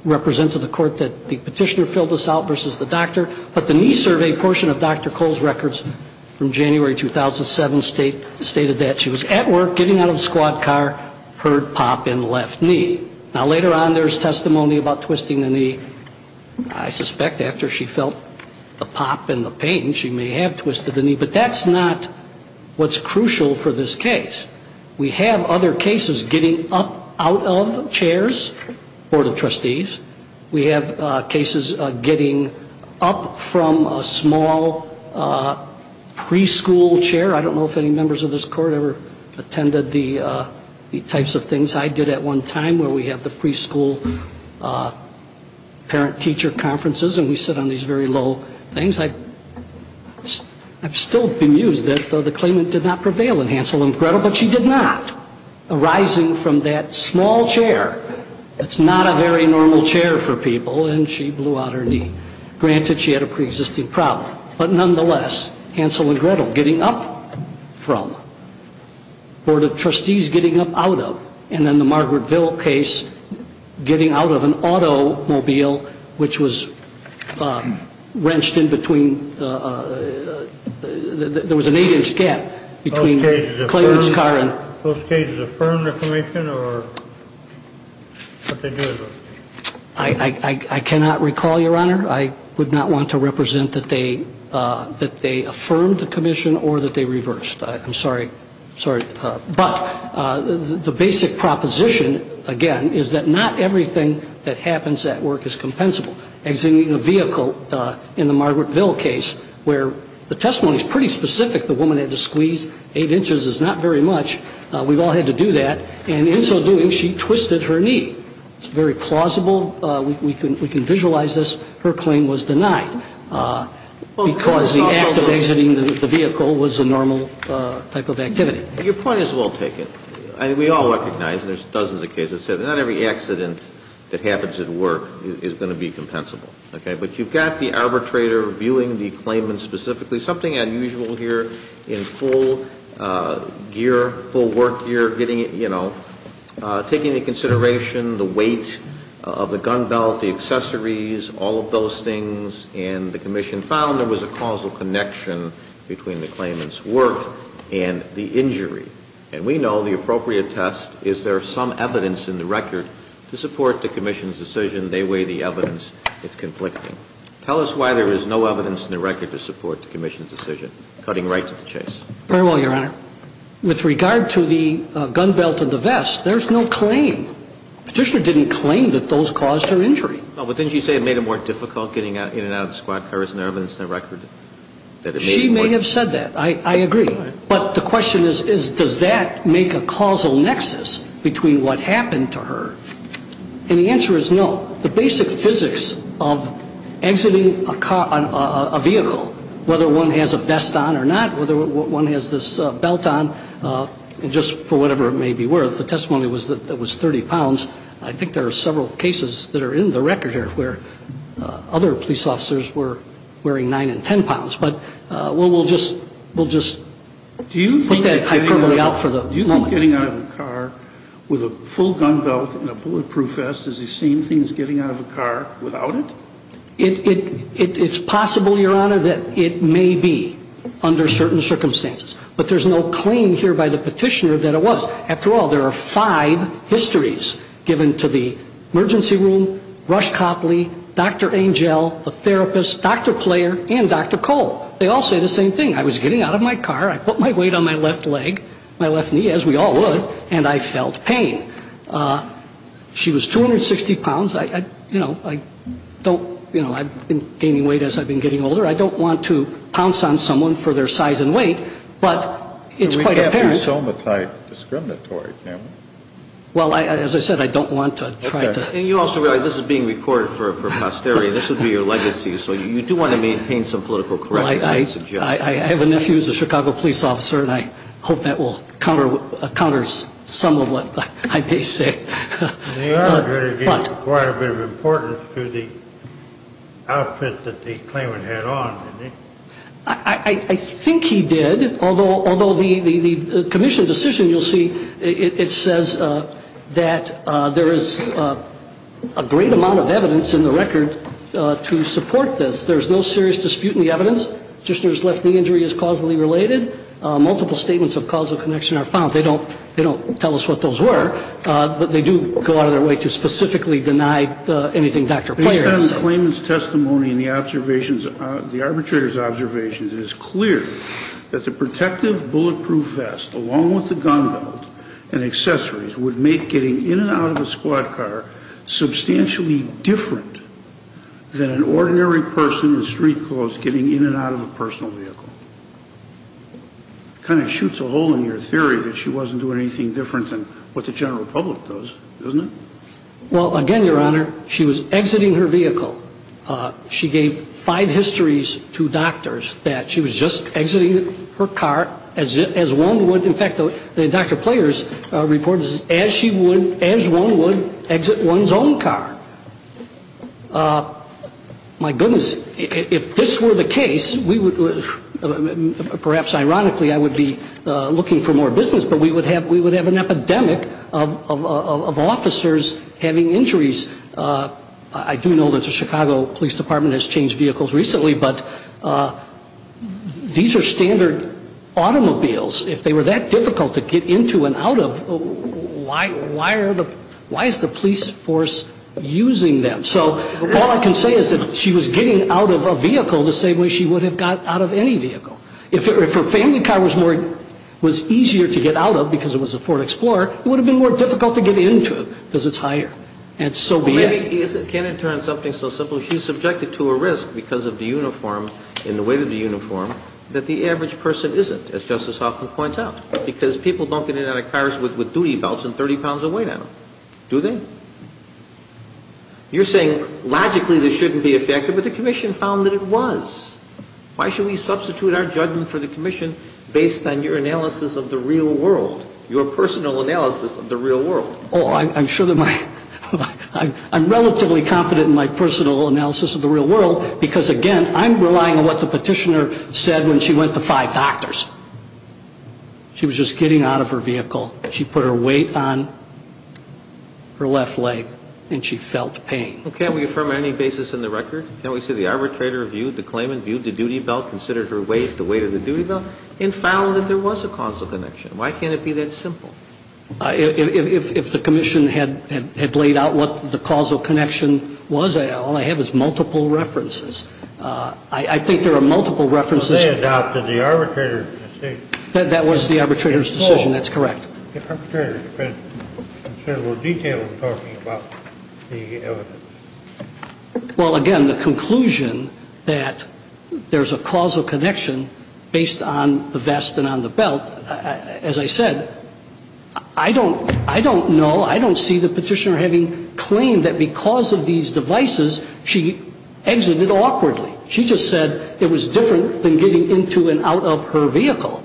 represent to the Court that the petitioner filled this out versus the doctor, but the knee survey portion of Dr. Cole's records from January 2007 stated that she was at work, getting out of the squad car, heard pop in the left knee. Now, later on, there's testimony about twisting the knee. I suspect after she felt the pop and the pain, she may have twisted the knee. But that's not what's crucial for this case. We have other cases getting up out of chairs, Board of Trustees. We have cases getting up from a small preschool chair. I don't know if any members of this Court ever attended the types of things I did at one time where we have the preschool parent-teacher conferences and we sit on these very low things. I've still been amused that the claimant did not prevail in Hansel and Gretel, but she did not, arising from that small chair. It's not a very normal chair for people, and she blew out her knee. Granted, she had a pre-existing problem. But nonetheless, Hansel and Gretel getting up from, Board of Trustees getting up out of, and then the Margaretville case, getting out of an automobile, which was wrenched in between, there was an eight-inch gap between Clarence's car and... Those cases affirmed the commission, or what they do with those cases? I cannot recall, Your Honor. I would not want to represent that they affirmed the commission or that they reversed. I'm sorry. But the basic proposition, again, is that not everything that happens at work is compensable. Exiting a vehicle in the Margaretville case where the testimony is pretty specific, the woman had to squeeze eight inches is not very much. We've all had to do that. And in so doing, she twisted her knee. It's very plausible. We can visualize this. Her claim was denied because the act of exiting the vehicle was a normal type of activity. Your point is well taken. We all recognize, and there's dozens of cases, that not every accident that happens at work is going to be compensable. Okay? But you've got the arbitrator viewing the claimant specifically. Something unusual here in full gear, full work gear, getting it, you know, taking into consideration the weight of the gun belt, the accessories, all of those things, and the commission found there was a causal connection between the claimant's work and the injury. And we know the appropriate test is there some evidence in the record to support the commission's decision. They weigh the evidence. It's conflicting. Tell us why there is no evidence in the record to support the commission's decision. Cutting right to the chase. Very well, Your Honor. With regard to the gun belt and the vest, there's no claim. Petitioner didn't claim that those caused her injury. No, but didn't she say it made it more difficult getting in and out of the squad car? Isn't there evidence in the record that it made it more difficult? She may have said that. I agree. But the question is, does that make a causal nexus between what happened to her? And the answer is no. The basic physics of exiting a vehicle, whether one has a vest on or not, whether one has this belt on, just for whatever it may be worth, the testimony was that it was 30 pounds. I think there are several cases that are in the record here where other police officers were wearing 9 and 10 pounds. But we'll just put that hyperbole out for the moment. Do you think getting out of a car with a full gun belt and a bulletproof vest is the same thing as getting out of a car without it? It's possible, Your Honor, that it may be under certain circumstances. But there's no claim here by the petitioner that it was. After all, there are five histories given to the emergency room, Rush Copley, Dr. Angel, the therapist, Dr. Player, and Dr. Cole. They all say the same thing. I was getting out of my car. I put my weight on my left leg, my left knee, as we all would, and I felt pain. She was 260 pounds. You know, I don't, you know, I've been gaining weight as I've been getting older. I don't want to pounce on someone for their size and weight. But it's quite apparent. We can't be somatite discriminatory, can we? Well, as I said, I don't want to try to. And you also realize this is being recorded for posterity. This would be your legacy. So you do want to maintain some political correctness, I suggest. I have a nephew who's a Chicago police officer, and I hope that will counter some of what I may say. They are going to give quite a bit of importance to the outfit that the claimant had on, didn't they? I think he did, although the commission's decision, you'll see, it says that there is a great amount of evidence in the record to support this. There's no serious dispute in the evidence. The practitioner's left knee injury is causally related. Multiple statements of causal connection are found. They don't tell us what those were, but they do go out of their way to specifically deny anything Dr. Player has said. Based on the claimant's testimony and the arbitrator's observations, it is clear that the protective bulletproof vest along with the gun belt and accessories would make getting in and out of a squad car substantially different than an ordinary person in street clothes getting in and out of a personal vehicle. Kind of shoots a hole in your theory that she wasn't doing anything different than what the general public does, doesn't it? Well, again, Your Honor, she was exiting her vehicle. She gave five histories to doctors that she was just exiting her car as one would. In fact, Dr. Player's report is as one would exit one's own car. My goodness, if this were the case, perhaps ironically I would be looking for more business, but we would have an epidemic of officers having injuries. I do know that the Chicago Police Department has changed vehicles recently, but these are standard automobiles. If they were that difficult to get into and out of, why is the police force using them? So all I can say is that she was getting out of a vehicle the same way she would have got out of any vehicle. If her family car was easier to get out of because it was a Ford Explorer, it would have been more difficult to get into because it's higher. And so be it. Can I turn to something so simple? She was subjected to a risk because of the uniform and the weight of the uniform that the average person isn't, as Justice Hoffman points out, because people don't get in and out of cars with duty belts and 30 pounds of weight on them. Do they? You're saying logically this shouldn't be effective, but the commission found that it was. Why should we substitute our judgment for the commission based on your analysis of the real world, your personal analysis of the real world? Oh, I'm sure that my ‑‑ I'm relatively confident in my personal analysis of the real world because, again, I'm relying on what the petitioner said when she went to five doctors. She was just getting out of her vehicle. She put her weight on her left leg, and she felt pain. Well, can't we affirm on any basis in the record? Can't we say the arbitrator viewed the claimant, viewed the duty belt, considered her weight, the weight of the duty belt, and found that there was a causal connection? Why can't it be that simple? If the commission had laid out what the causal connection was, all I have is multiple references. I think there are multiple references. Well, they adopted the arbitrator's decision. That was the arbitrator's decision. That's correct. The arbitrator had considerable detail in talking about the evidence. Well, again, the conclusion that there's a causal connection based on the vest and on the belt, as I said, I don't know, I don't see the petitioner having claimed that because of these devices she exited awkwardly. She just said it was different than getting into and out of her vehicle,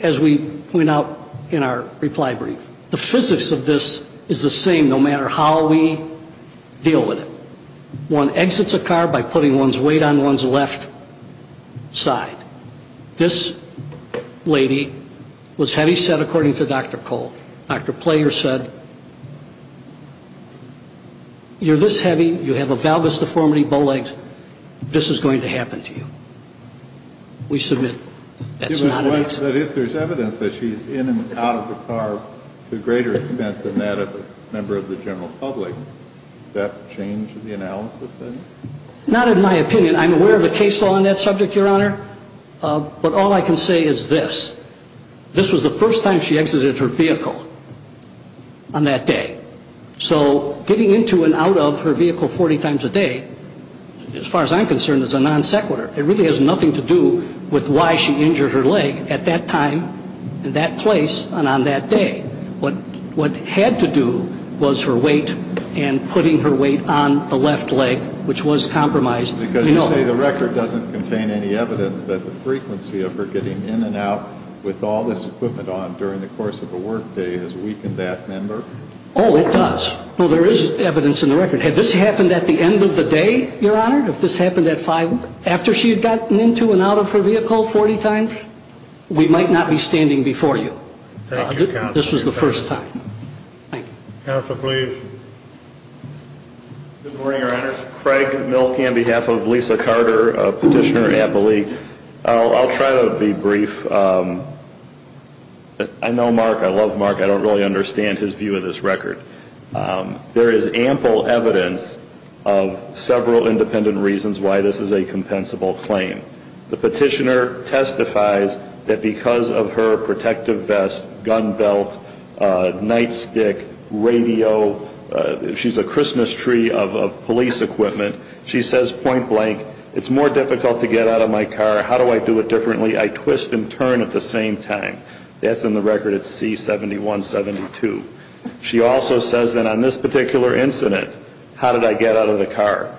as we point out in our reply brief. The physics of this is the same no matter how we deal with it. One exits a car by putting one's weight on one's left side. This lady was heavy set according to Dr. Cole. Dr. Player said, you're this heavy, you have a valgus deformity, bow legs, this is going to happen to you. We submit that's not an exit. If there's evidence that she's in and out of the car to a greater extent than that of a member of the general public, does that change the analysis then? Not in my opinion. I'm aware of a case law on that subject, Your Honor, but all I can say is this. This was the first time she exited her vehicle on that day. So getting into and out of her vehicle 40 times a day, as far as I'm concerned, is a non sequitur. It really has nothing to do with why she injured her leg at that time, in that place, and on that day. What had to do was her weight and putting her weight on the left leg, which was compromised. Because you say the record doesn't contain any evidence that the frequency of her getting in and out with all this equipment on during the course of a work day has weakened that member? Oh, it does. Well, there is evidence in the record. Had this happened at the end of the day, Your Honor? If this happened after she had gotten into and out of her vehicle 40 times? We might not be standing before you. Thank you, Counsel. This was the first time. Thank you. Counsel, please. Good morning, Your Honors. Craig Mielke on behalf of Lisa Carter, a petitioner in Appalachia. I'll try to be brief. I know Mark. I love Mark. I don't really understand his view of this record. There is ample evidence of several independent reasons why this is a compensable claim. The petitioner testifies that because of her protective vest, gun belt, nightstick, radio, she's a Christmas tree of police equipment. She says, point blank, it's more difficult to get out of my car. How do I do it differently? I twist and turn at the same time. That's in the record at C-7172. She also says that on this particular incident, how did I get out of the car?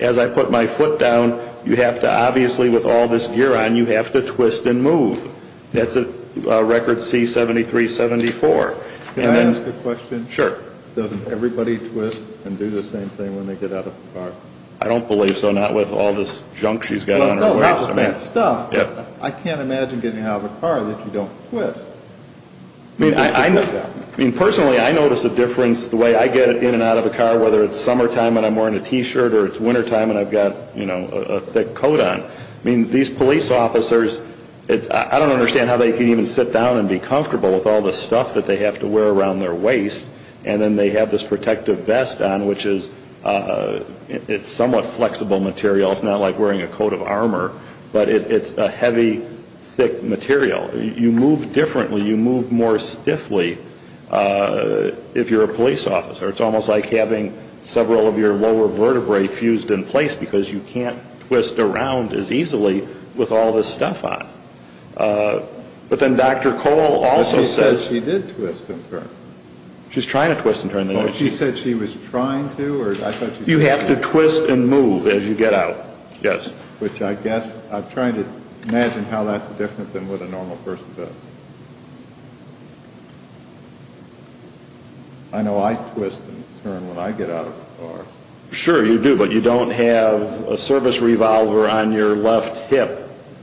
As I put my foot down, you have to obviously, with all this gear on, you have to twist and move. That's at record C-7374. Can I ask a question? Sure. Doesn't everybody twist and do the same thing when they get out of the car? I don't believe so, not with all this junk she's got on her waist. I can't imagine getting out of a car that you don't twist. Personally, I notice a difference the way I get in and out of a car, whether it's summertime and I'm wearing a T-shirt, or it's wintertime and I've got a thick coat on. These police officers, I don't understand how they can even sit down and be comfortable with all this stuff that they have to wear around their waist, and then they have this protective vest on, which is somewhat flexible material. It's not like wearing a coat of armor, but it's a heavy, thick material. You move differently. You move more stiffly if you're a police officer. It's almost like having several of your lower vertebrae fused in place because you can't twist around as easily with all this stuff on. But then Dr. Cole also says she did twist and turn. She's trying to twist and turn. She said she was trying to? You have to twist and move as you get out, yes. I'm trying to imagine how that's different than what a normal person does. I know I twist and turn when I get out of a car. Sure, you do, but you don't have a service revolver on your left hip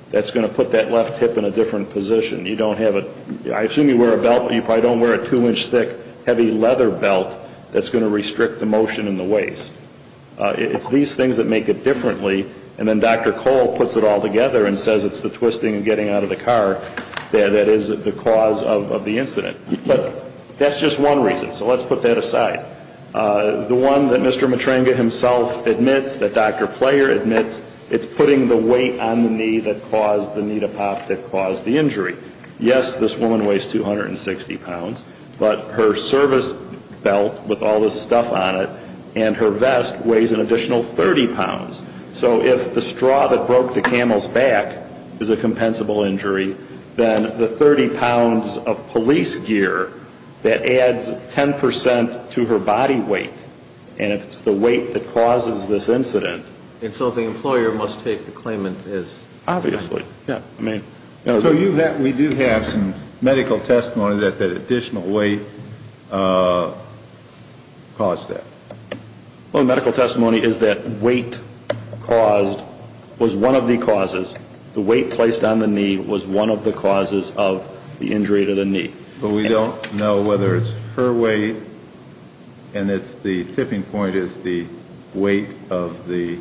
that's going to put that left hip in a different position. I assume you wear a belt, but you probably don't wear a two-inch thick heavy leather belt that's going to restrict the motion in the waist. It's these things that make it differently, and then Dr. Cole puts it all together and says it's the twisting and getting out of the car that is the cause of the incident. But that's just one reason, so let's put that aside. The one that Mr. Matrenga himself admits, that Dr. Player admits, it's putting the weight on the knee that caused the knee to pop that caused the injury. Yes, this woman weighs 260 pounds, but her service belt with all this stuff on it and her vest weighs an additional 30 pounds. So if the straw that broke the camel's back is a compensable injury, then the 30 pounds of police gear, that adds 10 percent to her body weight, and it's the weight that causes this incident. And so the employer must take the claimant as? Obviously. So we do have some medical testimony that that additional weight caused that. Well, medical testimony is that weight caused was one of the causes. The weight placed on the knee was one of the causes of the injury to the knee. But we don't know whether it's her weight, and the tipping point is the weight of the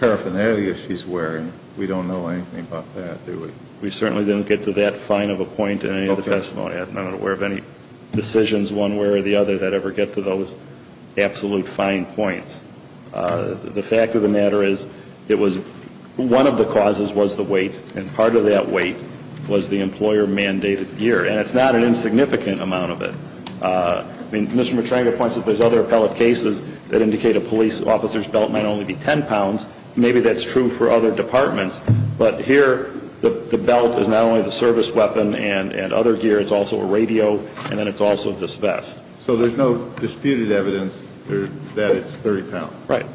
paraphernalia she's wearing. We don't know anything about that, do we? We certainly didn't get to that fine of a point in any of the testimony. I'm not aware of any decisions one way or the other that ever get to those absolute fine points. The fact of the matter is it was one of the causes was the weight, and part of that weight was the employer-mandated gear. And it's not an insignificant amount of it. I mean, Mr. Matrenga points out there's other appellate cases that indicate a police officer's belt might only be 10 pounds. Maybe that's true for other departments, but here the belt is not only the service weapon and other gear. It's also a radio, and then it's also this vest. So there's no disputed evidence that it's 30 pounds? Right.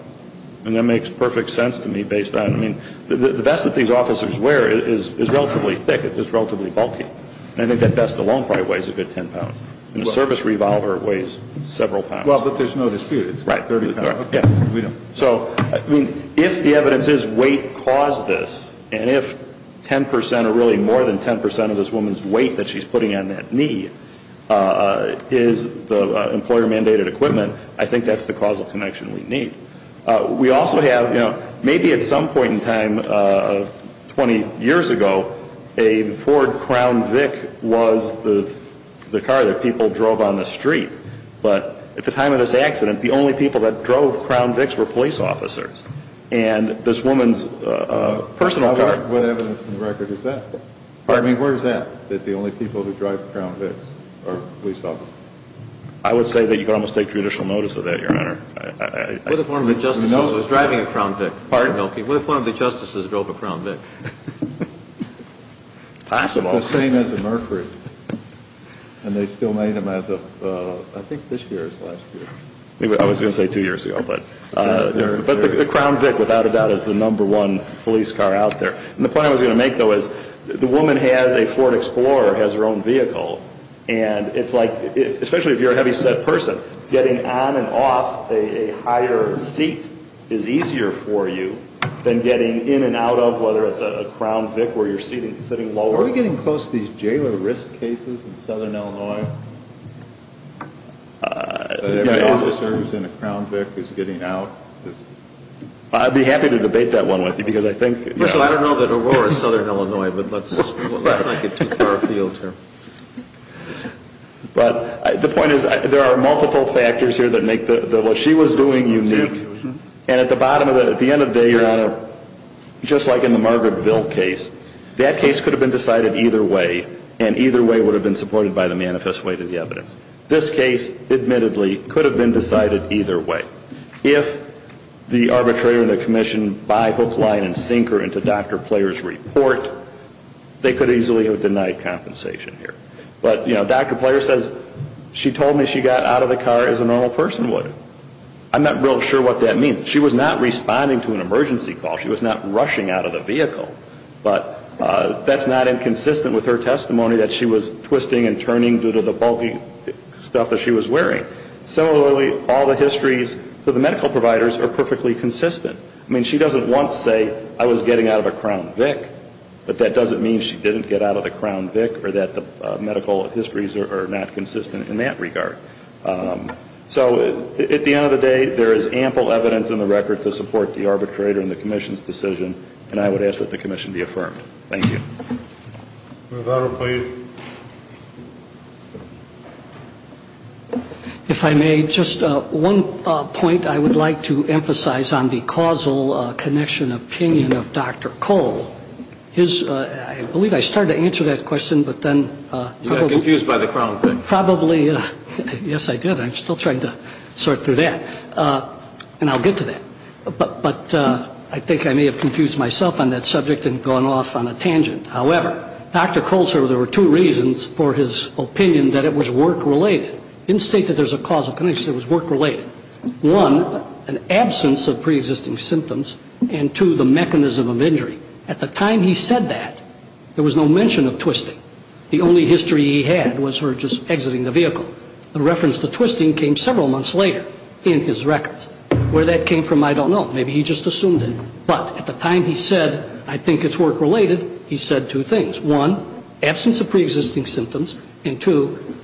And that makes perfect sense to me based on, I mean, the vest that these officers wear is relatively thick. It's relatively bulky. And I think that vest alone probably weighs a good 10 pounds. And the service revolver weighs several pounds. Well, but there's no dispute. It's 30 pounds. Right. If the evidence is weight caused this, and if 10 percent or really more than 10 percent of this woman's weight that she's putting on that knee is the employer-mandated equipment, I think that's the causal connection we need. We also have, you know, maybe at some point in time, 20 years ago, a Ford Crown Vic was the car that people drove on the street. But at the time of this accident, the only people that drove Crown Vics were police officers. And this woman's personal car. What evidence in the record is that? Pardon me? Where is that, that the only people who drive Crown Vics are police officers? I would say that you could almost take judicial notice of that, Your Honor. What if one of the justices was driving a Crown Vic? Pardon? What if one of the justices drove a Crown Vic? Possible. The same as a Mercury. And they still made them as of, I think, this year or last year. I was going to say two years ago. But the Crown Vic, without a doubt, is the number one police car out there. And the point I was going to make, though, is the woman has a Ford Explorer, has her own vehicle, and it's like, especially if you're a heavyset person, getting on and off a higher seat is easier for you than getting in and out of, whether it's a Crown Vic where you're sitting lower. Are we getting close to these jailer risk cases in Southern Illinois? The officer who's in a Crown Vic is getting out? I'd be happy to debate that one with you because I think... I don't know that Aurora is Southern Illinois, but let's not get too far afield here. But the point is there are multiple factors here that make what she was doing unique. And at the bottom of the, at the end of the day, Your Honor, just like in the Margaret Ville case, that case could have been decided either way, and either way would have been supported by the manifest weight of the evidence. This case, admittedly, could have been decided either way. If the arbitrator and the commission buy, hook, line, and sink her into Dr. Player's report, they could easily have denied compensation here. But, you know, Dr. Player says she told me she got out of the car as a normal person would. I'm not real sure what that means. She was not responding to an emergency call. She was not rushing out of the vehicle. But that's not inconsistent with her testimony that she was twisting and turning due to the bulky stuff that she was wearing. Similarly, all the histories for the medical providers are perfectly consistent. I mean, she doesn't want to say, I was getting out of a Crown Vic, but that doesn't mean she didn't get out of a Crown Vic or that the medical histories are not consistent in that regard. So at the end of the day, there is ample evidence in the record to support the arbitrator and the commission's decision, and I would ask that the commission be affirmed. Thank you. Dr. Cole. If I may, just one point I would like to emphasize on the causal connection opinion of Dr. Cole. I believe I started to answer that question, but then probably. You got confused by the Crown Vic. Probably. Yes, I did. I'm still trying to sort through that. And I'll get to that. But I think I may have confused myself on that subject and gone off on a tangent. However, Dr. Cole said there were two reasons for his opinion that it was work-related. In the state that there's a causal connection, it was work-related. One, an absence of preexisting symptoms, and two, the mechanism of injury. At the time he said that, there was no mention of twisting. The only history he had was her just exiting the vehicle. The reference to twisting came several months later in his records. Where that came from, I don't know. Maybe he just assumed it. But at the time he said, I think it's work-related, he said two things. One, absence of preexisting symptoms, and two,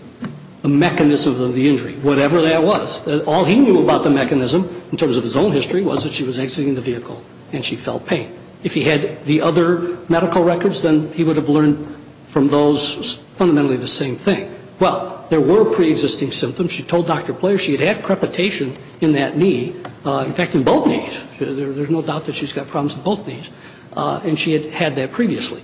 the mechanism of the injury, whatever that was. All he knew about the mechanism in terms of his own history was that she was exiting the vehicle and she felt pain. If he had the other medical records, then he would have learned from those fundamentally the same thing. Well, there were preexisting symptoms. She told Dr. Blair she had had crepitation in that knee. In fact, in both knees. There's no doubt that she's got problems in both knees. And she had had that previously.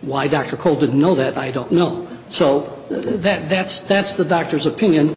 Why Dr. Cole didn't know that, I don't know. So that's the doctor's opinion.